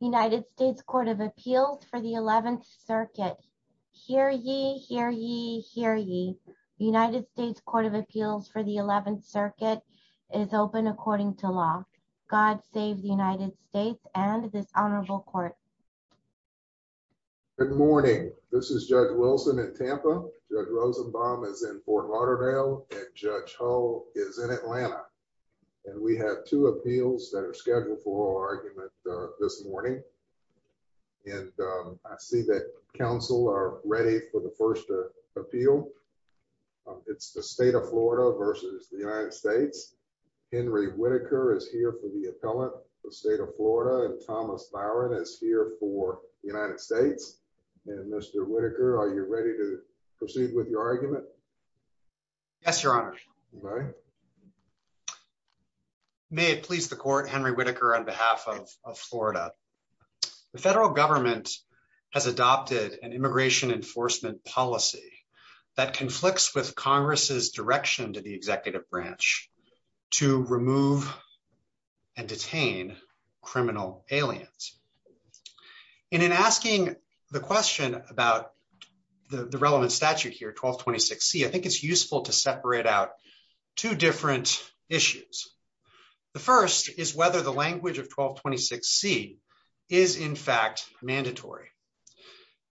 United States Court of Appeals for the Eleventh Circuit. Hear ye, hear ye, hear ye. United States Court of Appeals for the Eleventh Circuit is open according to law. God save the United States and this honorable court. Good morning. This is Judge Wilson in Tampa. Judge Rosenbaum is in Fort Lauderdale and Judge Hull is in Atlanta. And we have two appeals that are scheduled for argument this morning. And I see that counsel are ready for the first appeal. It's the state of Florida versus the United States. Henry Whitaker is here for the appellate, the state of Florida and Thomas Byron is here for the United States. And Mr. Whitaker, are you ready to proceed with your argument. Yes, Your Honor. May it please the court Henry Whitaker on behalf of Florida. The federal government has adopted an immigration enforcement policy that conflicts with Congress's direction to the executive branch to remove and detain criminal aliens. And in asking the question about the relevant statute here 1226 C I think it's useful to separate out two different issues. The first is whether the language of 1226 C is in fact mandatory.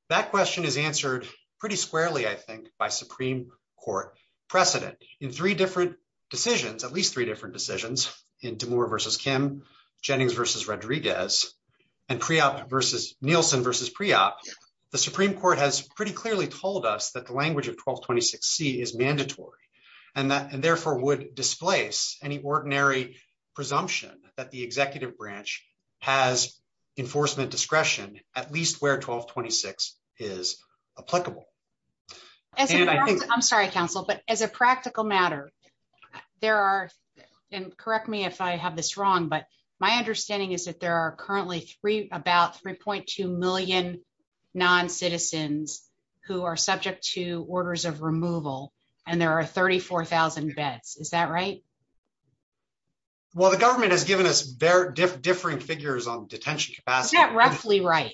That question is answered pretty squarely I think by Supreme Court precedent in three different decisions at least three different decisions into more versus Kim Jennings versus Rodriguez and pre out versus Nielsen versus pre op. The Supreme Court has pretty clearly told us that the language of 1226 C is mandatory, and that and therefore would displace any ordinary presumption that the executive branch has enforcement discretion, at least where 1226 is applicable. I'm sorry counsel but as a practical matter. There are, and correct me if I have this wrong but my understanding is that there are currently three about 3.2 million non citizens who are subject to orders of removal, and there are 34,000 beds, is that right. Well the government has given us very different figures on detention capacity that roughly right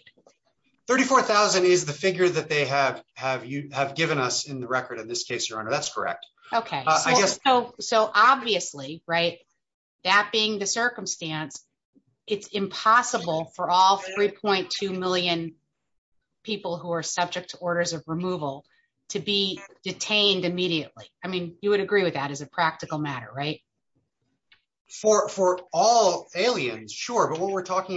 34,000 is the figure that they have, have you have given us in the record in this case your honor that's correct. Okay, so, so obviously, right. That being the circumstance. It's impossible for all 3.2 million people who are subject to orders of removal to be detained immediately. I mean, you would agree with that as a practical matter right for for all aliens sure but what we're subject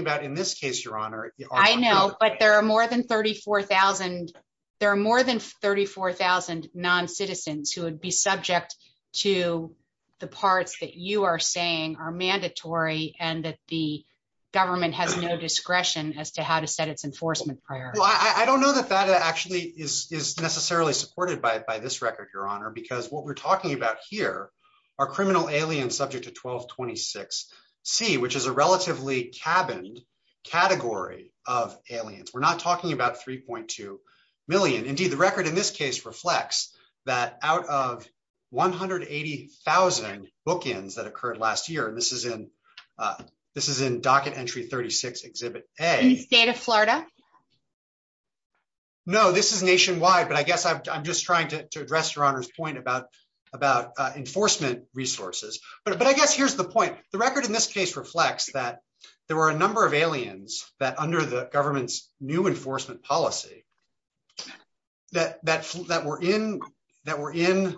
to the parts that you are saying are mandatory, and that the government has no discretion as to how to set its enforcement prior, I don't know that that actually is necessarily supported by this record your honor because what we're talking about here are criminal aliens subject to 1226 see which is a relatively cabin category of aliens we're not talking about 3.2 million indeed the record in this case reflects that out of 180,000 bookends that occurred last year and this is in. This is in docket entry 36 exhibit a state of Florida. No, this is nationwide but I guess I'm just trying to address your honors point about about enforcement resources, but I guess here's the point, the record in this case reflects that there were a number of aliens that under the government's new enforcement policy that that that we're in that we're in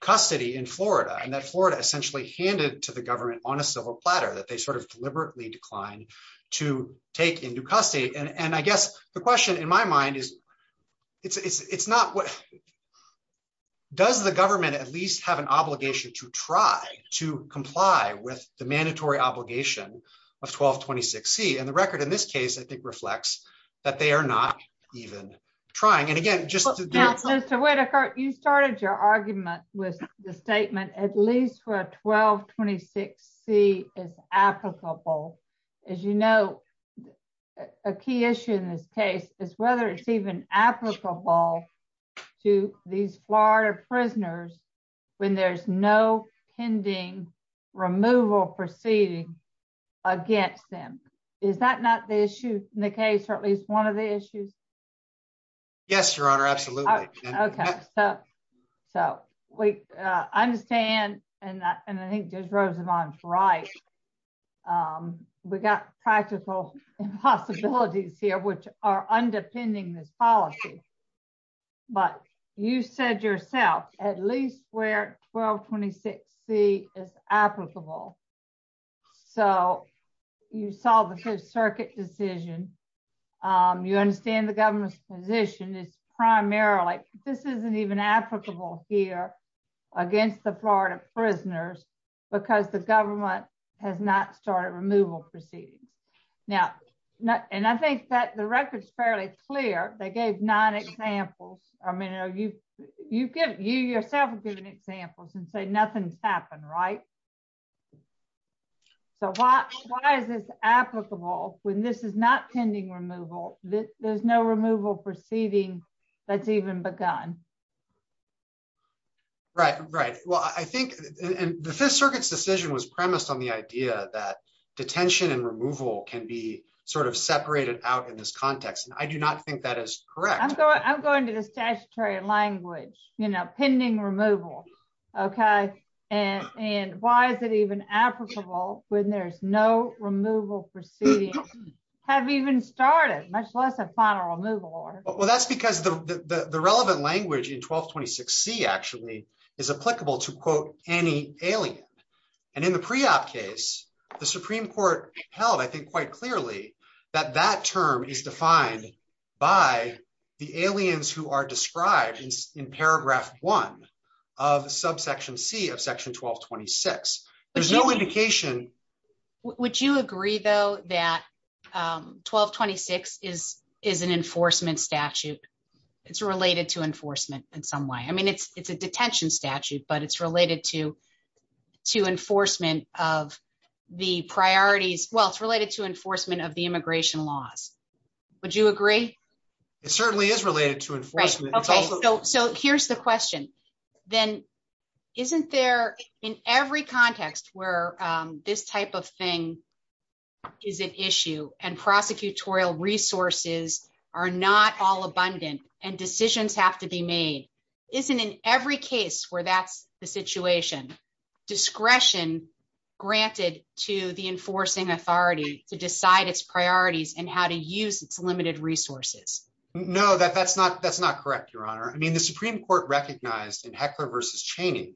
custody in Florida and that Florida essentially handed to the government on a civil platter that they sort of deliberately declined to take into custody. And I guess the question in my mind is, it's not what does the government at least have an obligation to try to comply with the mandatory obligation of 1226 see and the record in this case I think reflects that they are not even trying and again Mr Whitaker you started your argument with the statement, at least for 1226 see is applicable. As you know, a key issue in this case is whether it's even applicable to these Florida prisoners. When there's no pending removal proceeding against them. Is that not the issue in the case or at least one of the issues. Yes, Your Honor. Absolutely. Okay, so, so we understand, and I think there's rows of on right. We got practical possibilities here which are underpinning this policy. But you said yourself, at least where 1226 see is applicable. So, you saw the circuit decision. You understand the government's position is primarily, this isn't even applicable here against the Florida prisoners, because the government has not started removal proceedings. Now, not, and I think that the record is fairly clear, they gave nine examples, I mean are you, you get you yourself given examples and say nothing's happened right. So why, why is this applicable when this is not pending removal, there's no removal proceeding. That's even begun. Right, right. Well, I think, and the Fifth Circuit's decision was premised on the idea that detention and removal can be sort of separated out in this context and I do not think that is correct, I'm going to the statutory language, you know, pending removal. Okay. And, and why is it even applicable when there's no removal proceedings have even started, much less a final removal order. Well that's because the relevant language in 1226 see actually is applicable to quote, any alien. And in the pre op case, the Supreme Court held I think quite clearly that that term is defined by the aliens who are described in paragraph one of subsection see of section 1226, there's no indication. Would you agree though that 1226 is is an enforcement statute. It's related to enforcement in some way I mean it's it's a detention statute but it's related to to enforcement of the priorities, well it's related to enforcement of the immigration laws. Would you agree. It certainly is related to enforcement. So here's the question, then, isn't there in every context where this type of thing is an issue and prosecutorial resources are not all abundant and decisions have to be made. Isn't in every case where that's the situation discretion, granted to the enforcing authority to decide its priorities and how to use its limited resources know that that's not that's not correct, Your Honor, I mean the Supreme Court recognized in heckler versus Cheney,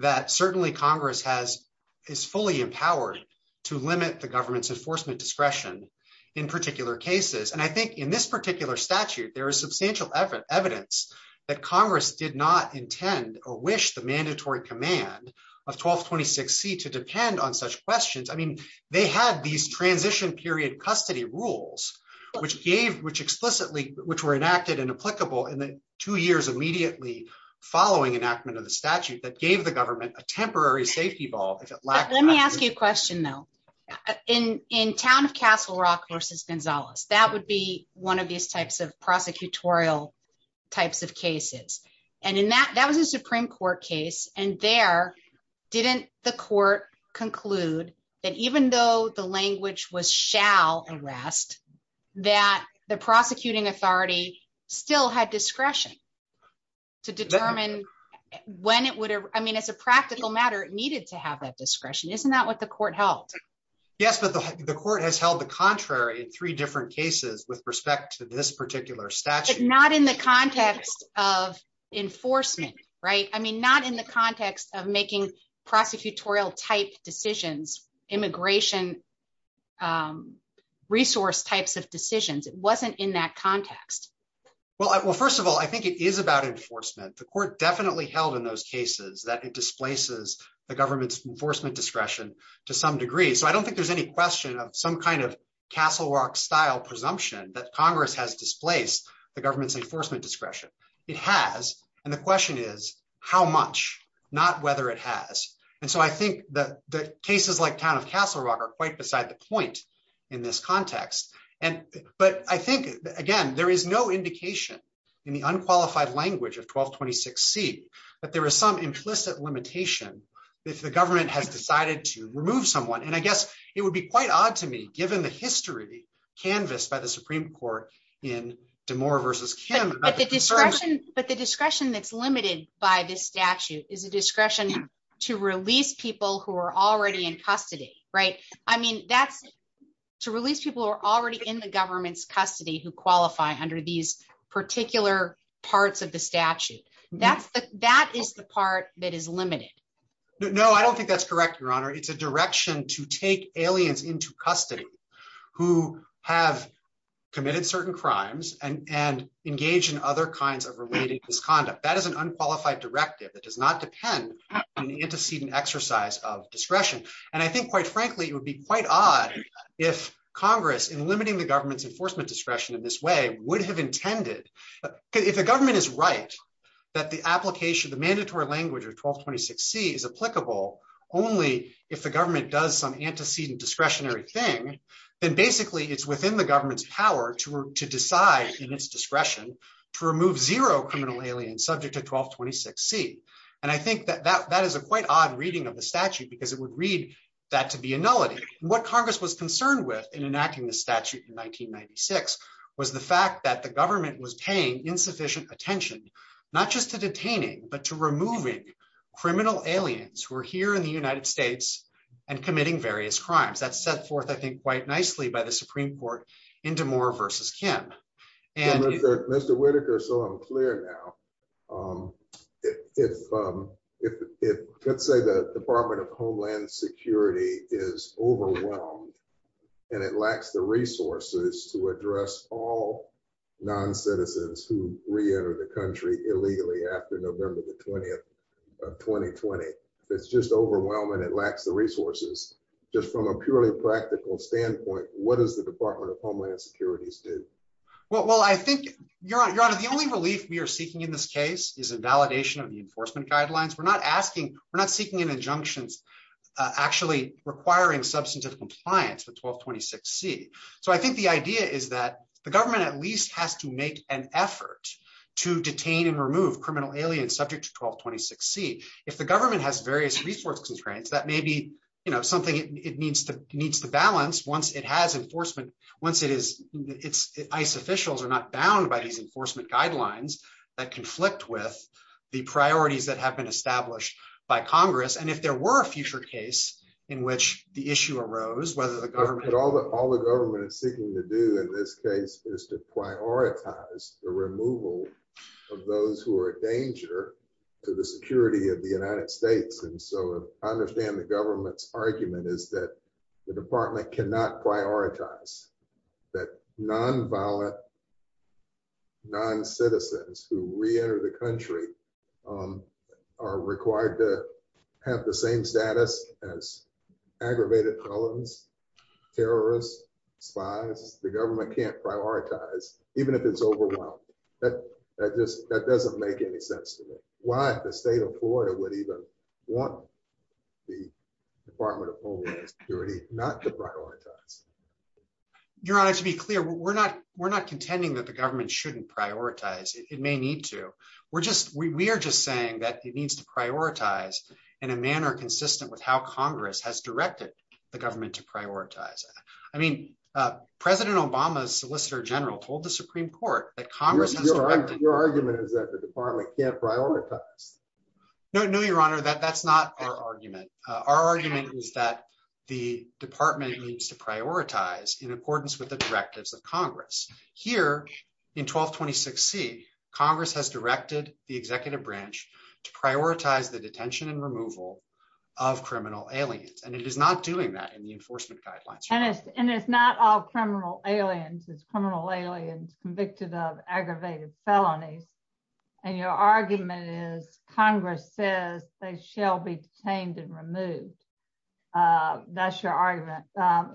that certainly Congress has is fully empowered to limit the government's enforcement discretion in particular cases and I think in this particular statute there is substantial effort evidence that Congress did not intend or wish the following enactment of the statute that gave the government, a temporary safety ball. Let me ask you a question though, in, in town of Castle Rock versus Gonzalez, that would be one of these types of prosecutorial types of cases. And in that that was a Supreme Court case, and there. Didn't the court conclude that even though the language was shall arrest that the prosecuting authority still had discretion to determine when it would, I mean it's a practical matter it needed to have that discretion isn't that what the court held. Yes, but the court has held the contrary in three different cases with respect to this particular statute not in the context of enforcement, right, I mean not in the context of making prosecutorial type decisions, immigration resource types of decisions it wasn't in that context. Well, first of all, I think it is about enforcement the court definitely held in those cases that it displaces the government's enforcement discretion, to some degree so I don't think there's any question of some kind of Castle Rock style presumption that Congress has displaced the government's enforcement discretion. It has. And the question is how much, not whether it has. And so I think that the cases like town of Castle Rock are quite beside the point in this context, and, but I think, again, there is no indication in the unqualified language of 1226 see that there is some implicit limitation. If the government has decided to remove someone and I guess it would be quite odd to me, given the history canvassed by the Supreme Court in tomorrow versus can discretion, but the discretion that's limited by this statute is a discretion to release people who are already in custody. Right. I mean, that's to release people are already in the government's custody who qualify under these particular parts of the statute. Right. That's the, that is the part that is limited. No, I don't think that's correct, Your Honor, it's a direction to take aliens into custody, who have committed certain crimes and and engage in other kinds of related misconduct that is an unqualified directive that does not depend on the antecedent exercise of discretion. And I think quite frankly it would be quite odd if Congress in limiting the government's enforcement discretion in this way would have intended, if the government is right, that the application would succeed. And I think that that that is a quite odd reading of the statute because it would read that to be a nullity, what Congress was concerned with in enacting the statute in 1996 was the fact that the government was paying insufficient attention, not just If, if, if, if, let's say the Department of Homeland Security is overwhelmed. And it lacks the resources to address all non citizens who reenter the country illegally after November the 20th, 2020, it's just overwhelming it lacks the resources, just from a purely practical standpoint, what is the Department of Homeland Security's do. Well, I think you're on the only relief we are seeking in this case is a validation of the enforcement guidelines we're not asking, we're not seeking an injunctions actually requiring substantive compliance with 1226 see. So I think the idea is that the government at least has to make an effort to detain and remove criminal aliens subject to 1226 see if the government has various resources grants that may be, you know, something it needs to needs to balance enforcement, once it is it's ice officials are not bound by these enforcement guidelines that conflict with the priorities that have been established by Congress and if there were a future case in which the issue arose whether the government all the all the government argument is that the department cannot prioritize that non violent Non citizens who reenter the country. are required to have the same status as aggravated violence terrorists spies, the government can't prioritize, even if it's overwhelming that that just that doesn't make any sense to me why the state of Florida would even want the Department of Homeland Security, not to prioritize. Your Honor, to be clear, we're not we're not contending that the government shouldn't prioritize it may need to. We're just we are just saying that it needs to prioritize in a manner consistent with how Congress has directed the government to prioritize. I mean, President Obama's solicitor general told the Supreme Court that Congress argument is that the department can't prioritize. No, no, Your Honor that that's not our argument. Our argument is that the department needs to prioritize in accordance with the directives of Congress here in 1226 see Congress has directed the executive branch to prioritize the detention and removal of criminal aliens and it is not doing that in the enforcement guidelines and it's and it's not all criminal aliens is criminal aliens convicted of aggravated felonies. And your argument is Congress says they shall be tamed and removed. That's your argument.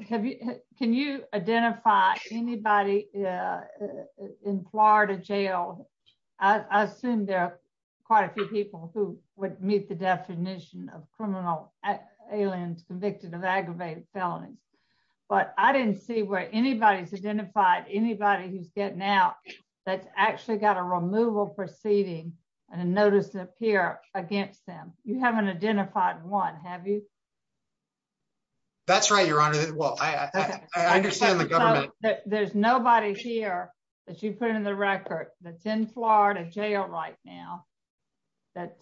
Can you identify anybody in Florida jail. I assume there are quite a few people who would meet the definition of criminal aliens convicted of aggravated felonies, but I didn't see where anybody's identified anybody who's getting out. That's actually got a removal proceeding, and notice appear against them, you haven't identified one have you. That's right, Your Honor. Well, I understand the government. There's nobody here that you put in the record that's in Florida jail right now. That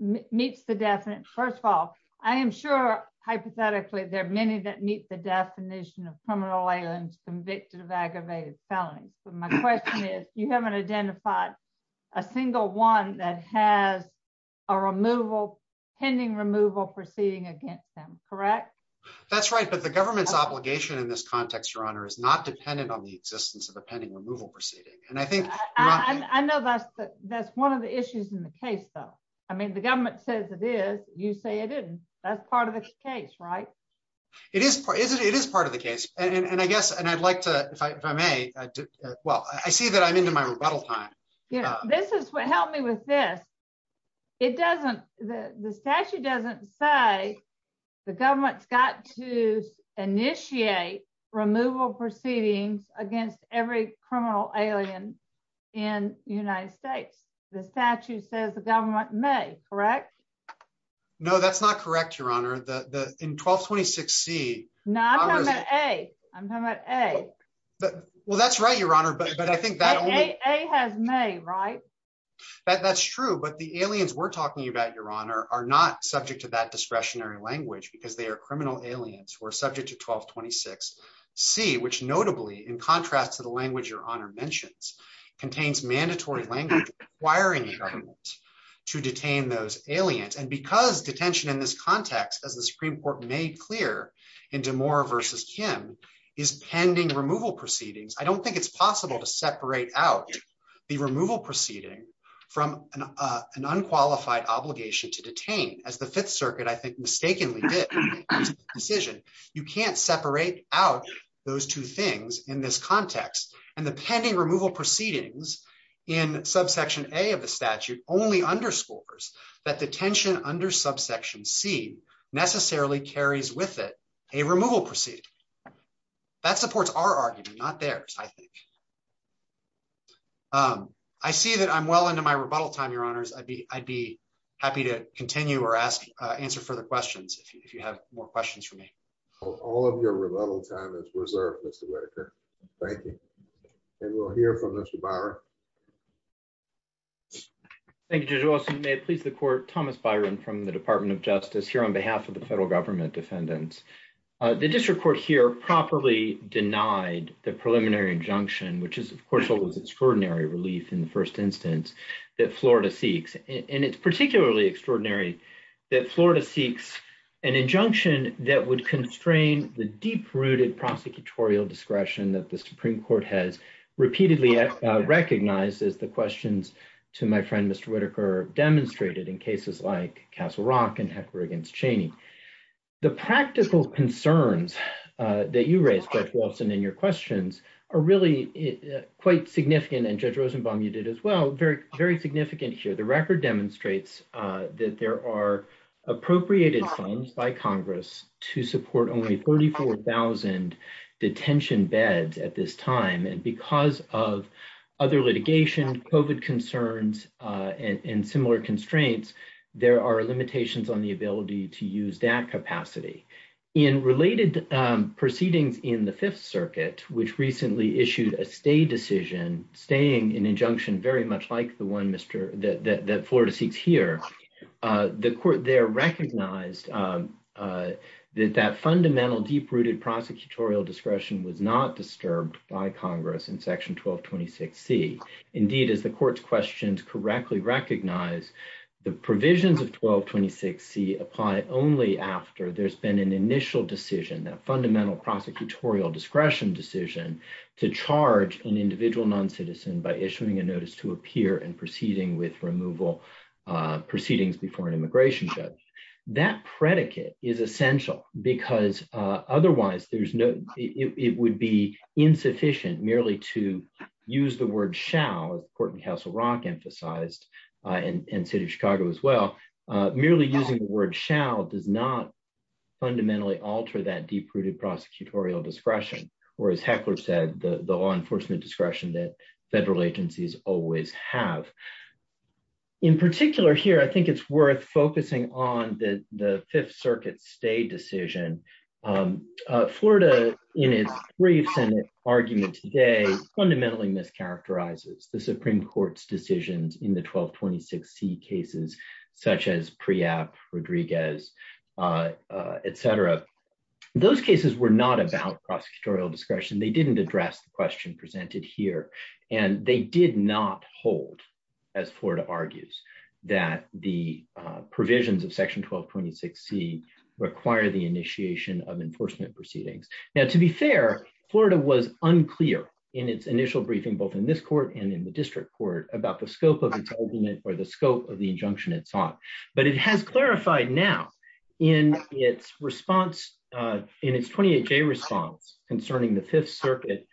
meets the definite first of all, I am sure, hypothetically, there are many that meet the definition of criminal aliens convicted of aggravated felonies, but my question is, you haven't identified a single one that has a removal pending removal proceeding against them, correct. That's right, but the government's obligation in this context, Your Honor is not dependent on the existence of the pending removal proceeding, and I think I know that's that's one of the issues in the case though. I mean the government says it is you say it isn't that's part of the case right. It is, it is part of the case, and I guess and I'd like to, if I may. Well, I see that I'm into my rebuttal time. Yeah, this is what helped me with this. It doesn't, the statute doesn't say the government's got to initiate removal proceedings against every criminal alien in the United States, the statute says the government may correct. No, that's not correct, Your Honor, the in 1226 see not a. I'm not a. Well, that's right, Your Honor, but I think that has me right. That's true, but the aliens we're talking about, Your Honor, are not subject to that discretionary language because they are criminal aliens were subject to 1226 see which notably in contrast to the language, Your Honor mentions contains mandatory language, wiring to detain those aliens and because detention in this context as the Supreme Court made clear into more versus Kim is pending removal proceedings I don't think it's possible to separate out the removal proceeding from an unqualified obligation to detain as the Fifth Circuit I think mistakenly decision. You can't separate out those two things in this context, and the pending removal proceedings in subsection a of the statute only underscores that the tension under subsection see necessarily carries with it, a removal proceed. That supports our argument, not theirs. I think I see that I'm well into my rebuttal time, Your Honors, I'd be, I'd be happy to continue or ask answer further questions if you have more questions for me. All of your rebuttal time is reserved Mr. Thank you. And we'll hear from Mr. Thank you. Please the court Thomas Byron from the Department of Justice here on behalf of the federal government defendants. The district court here properly denied the preliminary injunction which is of course it was extraordinary relief in the first instance that Florida seeks, and it's particularly extraordinary that Florida seeks an injunction that would constrain the deep rooted prosecutorial discretion that the Supreme Court has repeatedly recognized is the questions to my friend Mr Whitaker demonstrated in cases like Castle Rock and heckler against Cheney. The practical concerns that you raised that Wilson and your questions are really quite significant and judge Rosenbaum you did as well very, very significant here the record demonstrates that there are appropriated funds by Congress to support only 34,000 to use that capacity in related proceedings in the Fifth Circuit, which recently issued a stay decision, staying in injunction very much like the one Mr that Florida seeks here. The court there recognized that that fundamental deep rooted prosecutorial discretion was not disturbed by Congress in section 1226 see, indeed, as the courts questions correctly recognize the provisions of 1226 see apply only after there's been an initial decision that fundamental prosecutorial discretion decision to charge an individual non citizen by issuing a notice to appear and proceeding with removal proceedings before an immigration judge that predicate is essential, because otherwise there's no, it would be insufficient merely to use the word shall important Castle Rock emphasized in city of Chicago as well. Merely using the word shall does not fundamentally alter that deep rooted prosecutorial discretion, or as heckler said the law enforcement discretion that federal agencies always have. In particular here I think it's worth focusing on the Fifth Circuit stay decision. Florida, in its briefs and argument today fundamentally mischaracterizes the Supreme Court's decisions in the 1226 see cases such as pre app Rodriguez, etc. Those cases were not about prosecutorial discretion they didn't address the question presented here, and they did not hold as Florida argues that the provisions of section 1226 see require the initiation of enforcement proceedings. Now to be fair, Florida was unclear in its initial briefing both in this court and in the district court about the scope of entitlement or the scope of the injunction it's on, but it has clarified now in its response in its 28 day response concerning the Fifth Circuit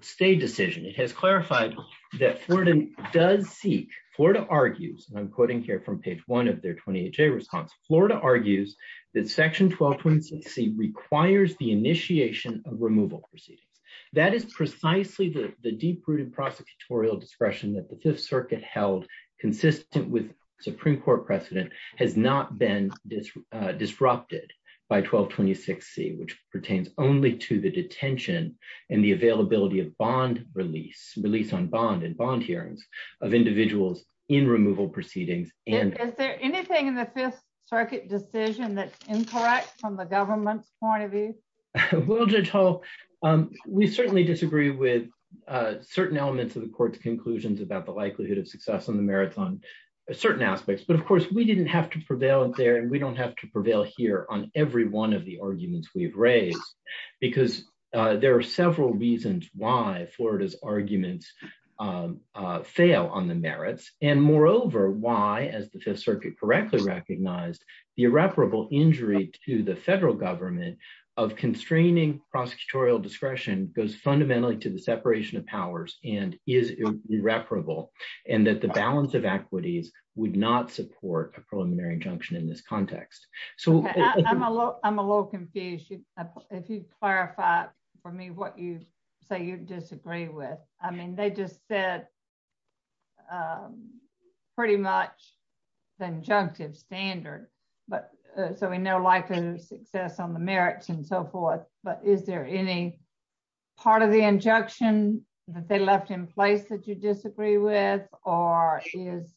stay decision it has clarified that Florida does seek Florida argues and I'm quoting here from page one of their 28 day response Florida argues that section 1226 see requires the initiation of removal proceedings. That is precisely the deep rooted prosecutorial discretion that the Fifth Circuit held consistent with Supreme Court precedent has not been disrupted by 1226 see which pertains only to the detention and the availability of bond release release on bond and bond hearings of individuals in removal proceedings, and is there anything in the Fifth Circuit decision that's incorrect from the government's point of view. We'll just hope. We certainly disagree with certain elements of the court's conclusions about the likelihood of success in the marathon, certain aspects but of course we didn't have to prevail there and we don't have to prevail here on every one of the arguments we've raised, because there are several reasons why Florida's arguments fail on the merits, and moreover why as the Fifth Circuit correctly recognized the irreparable injury to the federal government of constraining prosecutorial discretion goes fundamentally to the separation of powers, and is irreparable, and that the balance of equities would not support a preliminary injunction in this context. So, I'm a little confused if you clarify for me what you say you disagree with. I mean they just said, pretty much the injunctive standard, but so we know like success on the merits and so forth, but is there any part of the injunction that they left in place that you disagree with, or is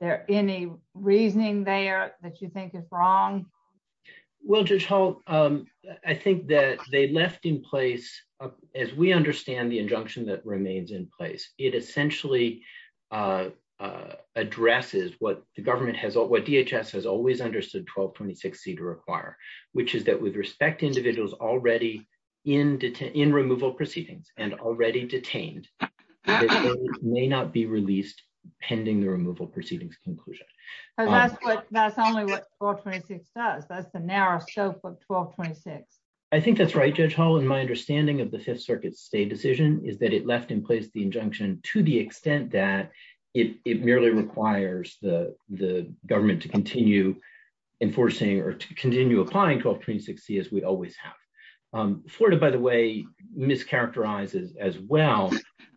there any reasoning there that you think is wrong. Well just hope. I think that they left in place. As we understand the injunction that remains in place, it essentially addresses what the government has what DHS has always understood 1226 c to require, which is that with respect to individuals already in detail in removal proceedings and already detained may not be released, pending the removal proceedings conclusion. That's only what does that's the narrow scope of 1226. I think that's right. Judge Holland my understanding of the Fifth Circuit state decision is that it left in place the injunction, to the extent that it merely requires the, the government to continue enforcing or to continue applying 1236 see as we always have Florida, by the way, mischaracterizes as well.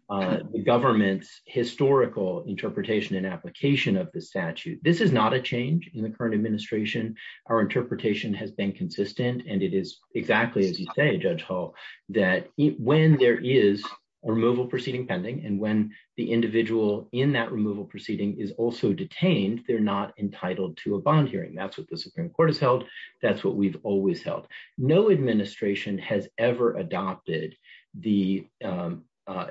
The government's historical interpretation and application of the statute, this is not a change in the current administration, our interpretation has been consistent and it is exactly as you say Judge Hall, that when there is removal proceeding pending and when the statute is held. That's what we've always held no administration has ever adopted the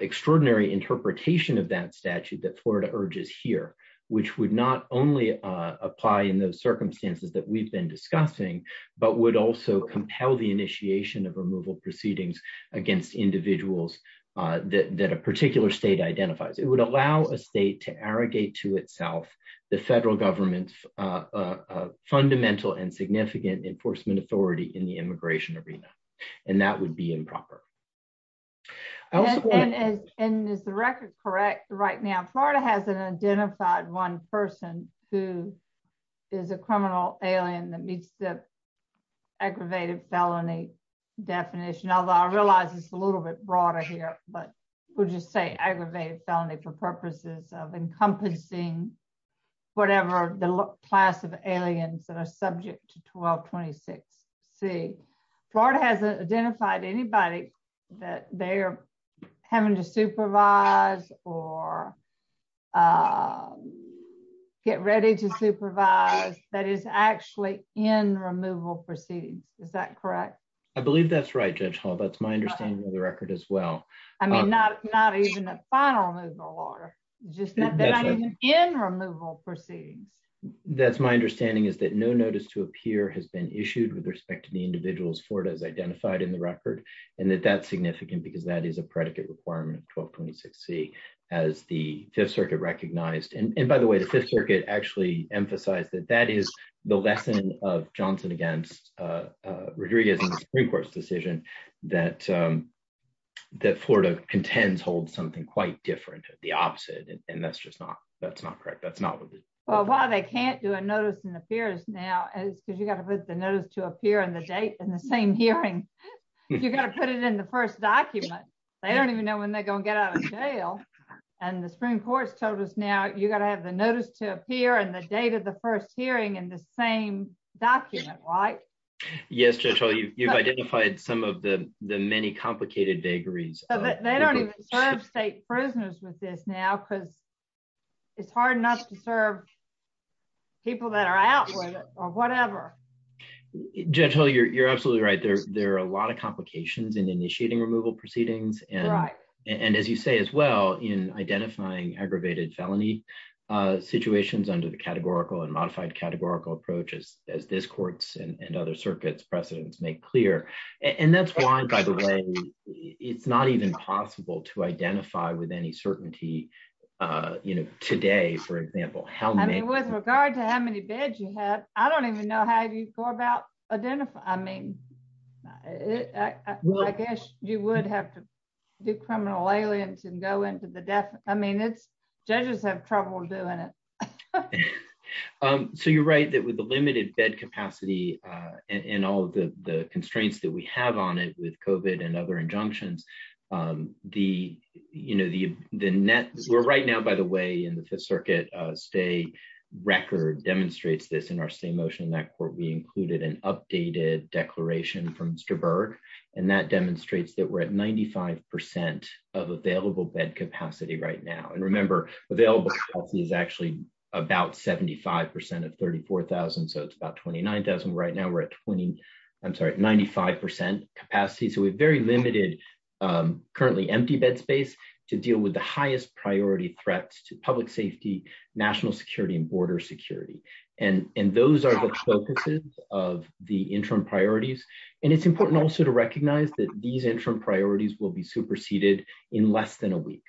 extraordinary interpretation of that statute that Florida urges here, which would not only apply in those circumstances that we've been discussing, but would also compel the initiation of removal proceedings against individuals that a particular state identifies it would allow a state to arrogate to itself, the federal government's fundamental and significant enforcement authority in the immigration arena, and that would be improper. And is the record correct right now Florida hasn't identified one person who is a criminal alien that meets the aggravated felony definition although I realize it's a little bit broader here, but we'll just say aggravated felony for purposes of encompassing whatever the class of aliens that are subject to 1226 see Florida hasn't identified anybody that they're having to supervise or get ready to supervise that is actually in removal proceedings. Is that correct, I believe that's right, Judge Hall that's my understanding of the record as well. I mean, not, not even a final move or just in removal proceedings. That's my understanding is that no notice to appear has been issued with respect to the individuals for it as identified in the record, and that that's significant because that is a predicate requirement 1226 see as the Fifth Circuit recognized and by the way the Fifth Circuit actually emphasize that that is the lesson of Johnson against Rodriguez Supreme Court's decision that that Florida contends hold something quite different, the opposite, and that's just not, that's not correct that's not what they can't do a notice and appears now is because you got to put the notice to appear on the date and the same hearing. You got to put it in the first document. They don't even know when they're going to get out of jail, and the Supreme Court's told us now you got to have the notice to appear and the date of the first hearing and the same document right. Yes, you've identified some of the, the many complicated vagaries, they don't have state prisoners with this now because it's hard enough to serve people that are out with it, or whatever. Gentle you're absolutely right there, there are a lot of complications and initiating removal proceedings and right. And as you say as well in identifying aggravated felony situations under the categorical and modified categorical approaches, as this courts and other more about identify I mean, I guess, you would have to do criminal aliens and go into the death. I mean it's judges have trouble doing it. So you're right that with the limited bed capacity, and all the constraints that we have on it with coven and other injunctions. The, you know, the, the net is we're right now by the way in the Fifth Circuit stay record demonstrates this in our state motion that court we included an updated declaration from Mr Berg, and that demonstrates that we're at 95% of available bed capacity right now and remember available is actually about 75% of 34,000 so it's about 29,000 right now we're at 20. I'm sorry 95% capacity so we've very limited currently empty bed space to deal with the highest priority threats to public safety, national security and border security. And, and those are the focuses of the interim priorities. And it's important also to recognize that these interim priorities will be superseded in less than a week.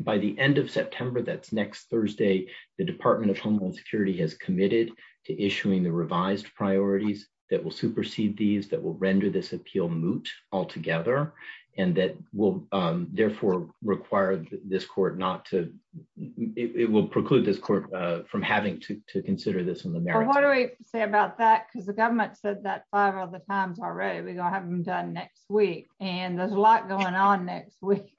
By the end of September that's next Thursday, the Department of Homeland Security has committed to issuing the revised priorities that will supersede these that will render this appeal moot altogether, and that will therefore require this court not to. It will preclude this court from having to consider this one. What do we say about that because the government said that five other times already we don't have them done next week, and there's a lot going on next week.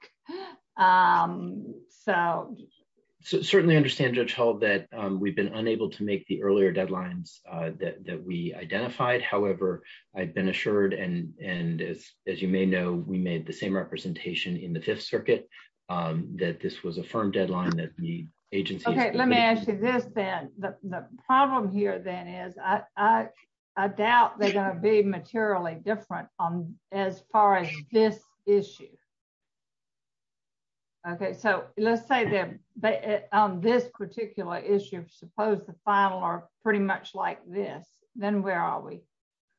So, certainly understand that we've been unable to make the earlier deadlines that we identified however I've been assured and and as, as you may know, we made the same representation in the Fifth Circuit, that this was a firm deadline that the agency. Okay, let me ask you this then the problem here then is, I doubt they're going to be materially different on as far as this issue. Okay, so let's say that this particular issue suppose the final are pretty much like this, then where are we.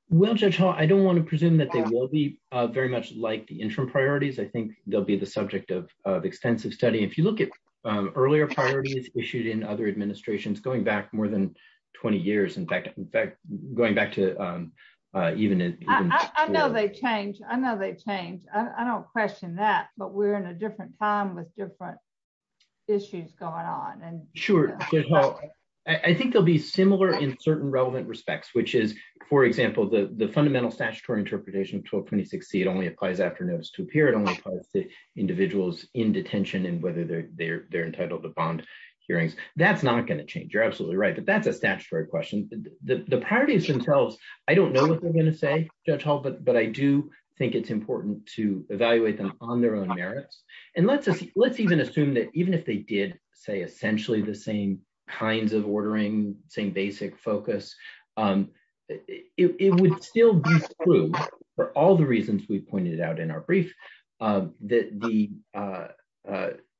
Well, I don't want to presume that they will be very much like the interim priorities I think there'll be the subject of extensive study if you look at earlier priorities issued in other administrations going back more than 20 years in fact, in fact, going back to even I know they change. I know they change. I don't question that, but we're in a different time with different issues going on and sure. I think there'll be similar in certain relevant respects which is, for example, the the fundamental statutory interpretation of 1226 seat only applies after notice to appear it only applies to individuals in detention and whether they're they're they're entitled to bond hearings, that's not going to change you're absolutely right but that's a statutory question, the parties themselves. I don't know what they're going to say, Judge Hall but but I do think it's important to evaluate them on their own merits and let's let's even assume that even if they did say essentially the same kinds of ordering same basic focus. It would still be true for all the reasons we pointed out in our brief. The, the,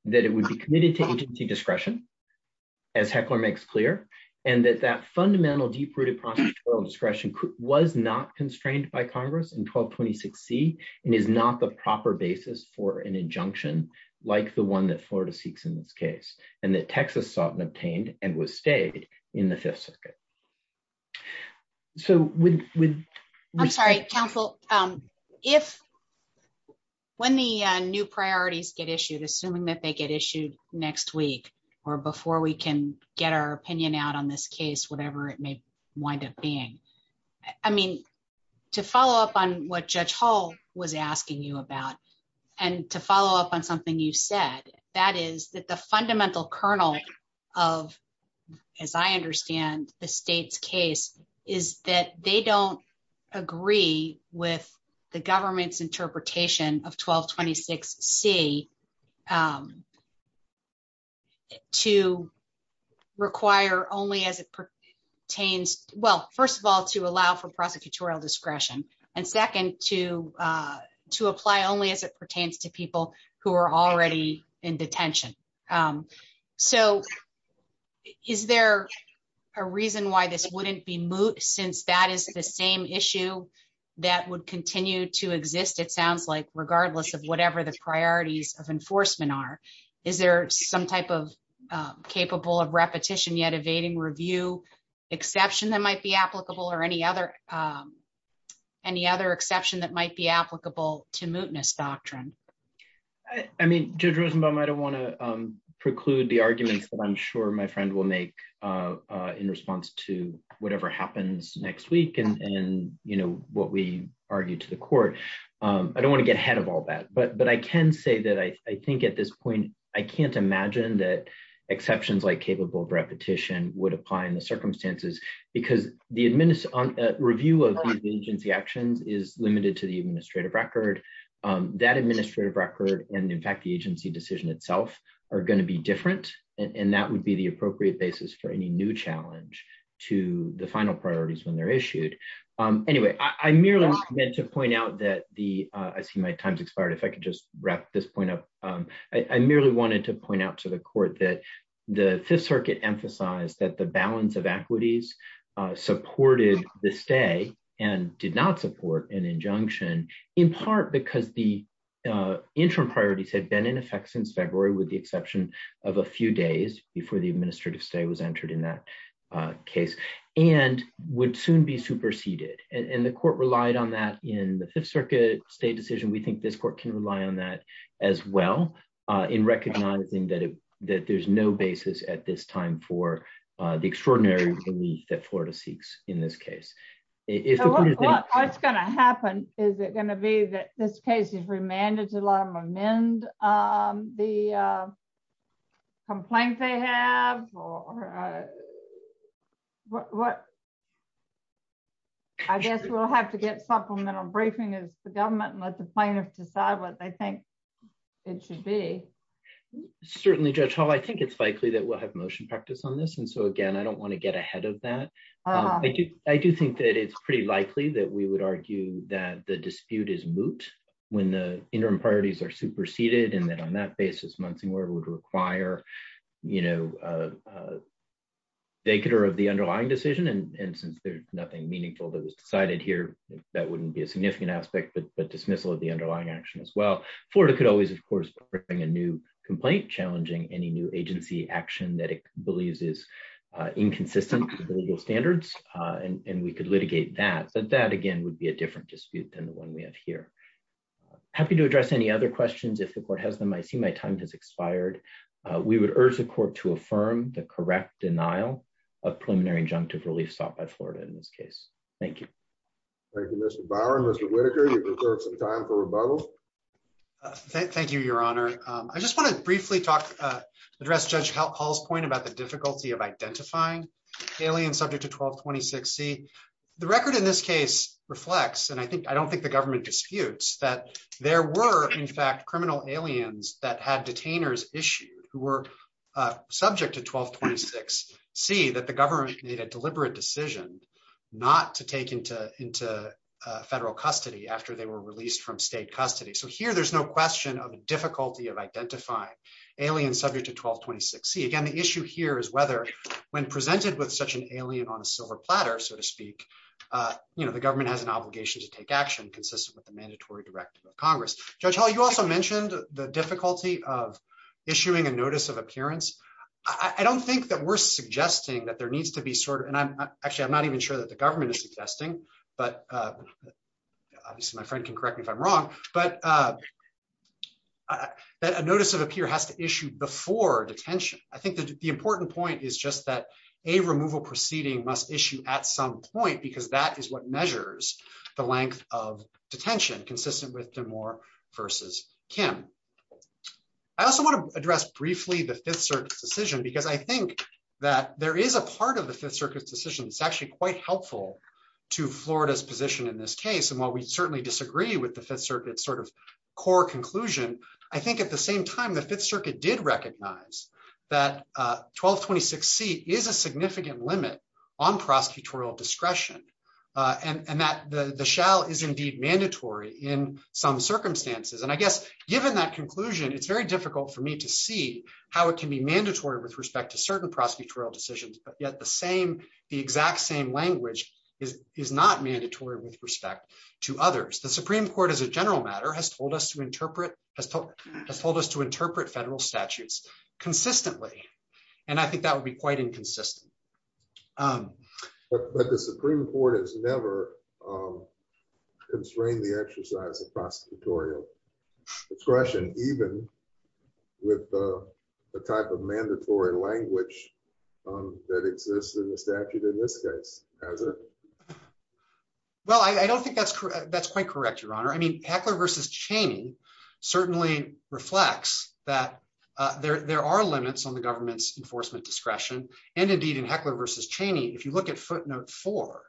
that it would be committed to agency discretion, as heckler makes clear, and that that fundamental deep rooted discretion was not constrained by Congress and 1226 see it is not the proper basis for an injunction, like the one that Florida seeks in this case, and that Texas sought and obtained and was stated in the Fifth Circuit. So, with. I'm sorry, counsel. If when the new priorities get issued assuming that they get issued next week, or before we can get our opinion out on this case whatever it may wind up being. I mean, to follow up on what Judge Hall was asking you about. And to follow up on something you said that is that the fundamental kernel of, as I understand the state's case is that they don't agree with the government's interpretation of 1226 see to require only as it pertains, well, first of all to allow for prosecutorial discretion, and second to to apply only as it pertains to people who are already in detention. So, is there a reason why this wouldn't be moot since that is the same issue that would continue to exist it sounds like regardless of whatever the priorities of enforcement are. Is there some type of capable of repetition yet evading review exception that might be applicable or any other. Any other exception that might be applicable to mootness doctrine. I mean, Jim Rosenbaum I don't want to preclude the arguments that I'm sure my friend will make in response to whatever happens next week and you know what we argued to the court. I don't want to get ahead of all that but but I can say that I think at this point, I can't imagine that exceptions like capable of repetition would apply in the circumstances, because the administer on review of agency actions is limited to the administrative record that administrative record, and in fact the agency decision itself are going to be different, and that would be the appropriate basis for any new challenge to the final priorities when they're issued. Anyway, I merely meant to point out that the I see my time's expired if I could just wrap this point up. I merely wanted to point out to the court that the Fifth Circuit emphasize that the balance of equities supported the stay and did not support an injunction, in part because the interim priorities had been in effect since February with the exception of a few in recognizing that it that there's no basis at this time for the extraordinary that Florida seeks. In this case, it's going to happen, is it going to be that this case is remanded a lot of men, the complaint they have. What. I guess we'll have to get supplemental briefing is the government and let the plaintiff decide what they think it should be. Certainly Judge Hall I think it's likely that we'll have motion practice on this and so again I don't want to get ahead of that. I do, I do think that it's pretty likely that we would argue that the dispute is moot when the interim priorities are superseded and then on that basis months and where it would require, you know, they could are of the underlying decision and since there's nothing meaningful that was decided here. That wouldn't be a significant aspect but but dismissal of the underlying action as well for it could always of course bring a new complaint challenging any new agency action that it believes is inconsistent standards, and we could litigate that that that again would be a different dispute than the one we have here. Happy to address any other questions if the court has them I see my time has expired. We would urge the court to affirm the correct denial of preliminary injunctive relief stopped by Florida in this case. Thank you. Thank you, Mr. Bauer and Mr. Thank you, Your Honor. I just want to briefly talk address judge help Paul's point about the difficulty of identifying alien subject to 1226 see the record in this case reflects and I think I don't think the government disputes that there were in fact criminal aliens that had detainers issue, who were subject to 1226, see that the government made a deliberate decision not to take into into federal custody after they were released from state custody so here there's no question of identifying alien subject to 1226 see again the issue here is whether when presented with such an alien on a silver platter, so to speak, you know the government has an obligation to take action consistent with the mandatory directive of Congress, you also mentioned the difficulty of issuing a notice of appearance. I don't think that we're suggesting that there needs to be sort of and I'm actually I'm not even sure that the government is suggesting, but obviously my friend can correct me if I'm wrong, but that a notice of appear has to issue before detention, I think the important point is just that a removal proceeding must issue at some point because that is what measures, the length of detention consistent with the more versus Kim. I also want to address briefly the Fifth Circuit decision because I think that there is a part of the Fifth Circuit decision it's actually quite helpful to Florida's position in this case and while we certainly disagree with the Fifth Circuit sort of core conclusion. I think at the same time the Fifth Circuit did recognize that 1226 see is a significant limit on prosecutorial discretion, and that the shell is indeed mandatory in some circumstances and I guess, given that conclusion it's very difficult for me to see how it can be mandatory with respect to certain prosecutorial decisions, but yet the same, the exact same language is is not mandatory with respect to others the Supreme Court as a general matter has told us to interpret has told us told us to interpret federal statutes consistently. And I think that would be quite inconsistent. But the Supreme Court has never constrained the exercise of prosecutorial discretion, even with the type of mandatory language that exists in the statute in this case, as a. Well, I don't think that's that's quite correct Your Honor I mean heckler versus Cheney certainly reflects that there are limits on the government's enforcement discretion, and indeed and heckler versus Cheney if you look at footnote for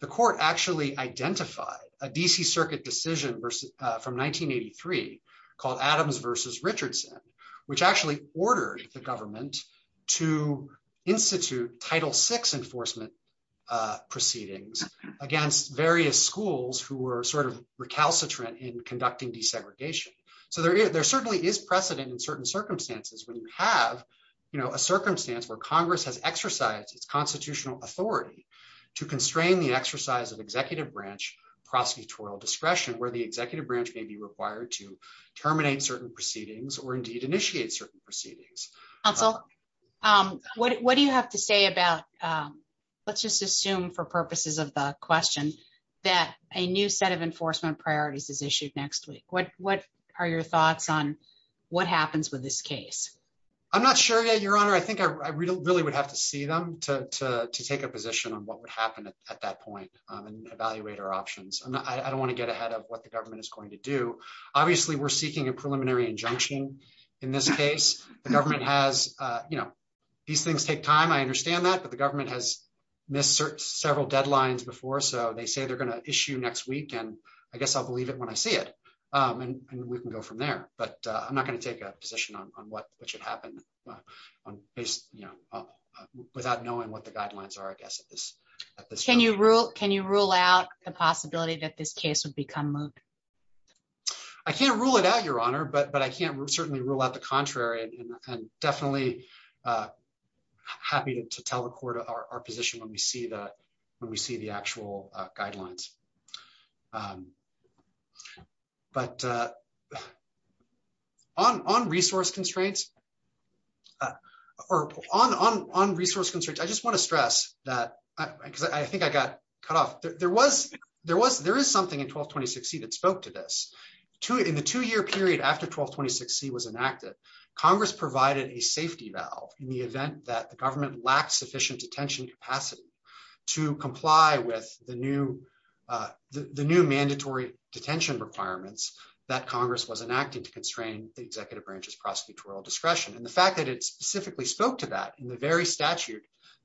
the court actually identified a DC Circuit decision versus from 1983 called Adams versus Richardson, which actually ordered the government to institute title six enforcement proceedings against various schools who were sort of recalcitrant in conducting desegregation. So there is there certainly is precedent in certain circumstances when you have, you know, a circumstance where Congress has exercised its constitutional authority to constrain the exercise of executive branch prosecutorial discretion where the executive branch may be required to terminate certain proceedings or indeed initiate certain proceedings. So, what do you have to say about. Let's just assume for purposes of the question that a new set of enforcement priorities is issued next week what what are your thoughts on what happens with this case. I'm not sure yet Your Honor I think I really would have to see them to take a position on what would happen at that point, and evaluate our options and I don't want to get ahead of what the government is going to do. Obviously we're seeking a preliminary injunction. In this case, the government has, you know, these things take time I understand that but the government has missed certain several deadlines before so they say they're going to issue next week and I guess I'll believe it when I see it. And we can go from there, but I'm not going to take a position on what what should happen. You know, without knowing what the guidelines are I guess. Can you rule, can you rule out the possibility that this case would become moved. I can't rule it out Your Honor but but I can't certainly rule out the contrary, and definitely happy to tell the court our position when we see that when we see the actual guidelines. But on resource constraints or on on on resource constraints, I just want to stress that I think I got cut off there was there was there is something in 1220 succeed and spoke to this to it in the two year period after 1220 succeed was enacted, Congress provided a safety valve, in the event that the government lacks sufficient attention capacity to comply with the new the new mandatory detention requirements that Congress was enacted to constrain the executive branches prosecutorial discretion and the fact that it specifically spoke to that in the very statute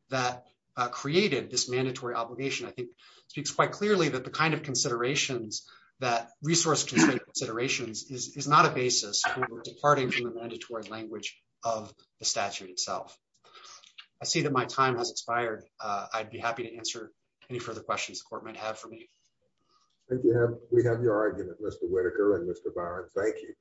that created this mandatory obligation I think speaks quite clearly that the kind of considerations that resource considerations is not a basis for departing from the mandatory language of the statute itself. I see that my time has expired. I'd be happy to answer any further questions the court might have for me. We have your argument, Mr Whitaker and Mr Byron, thank you.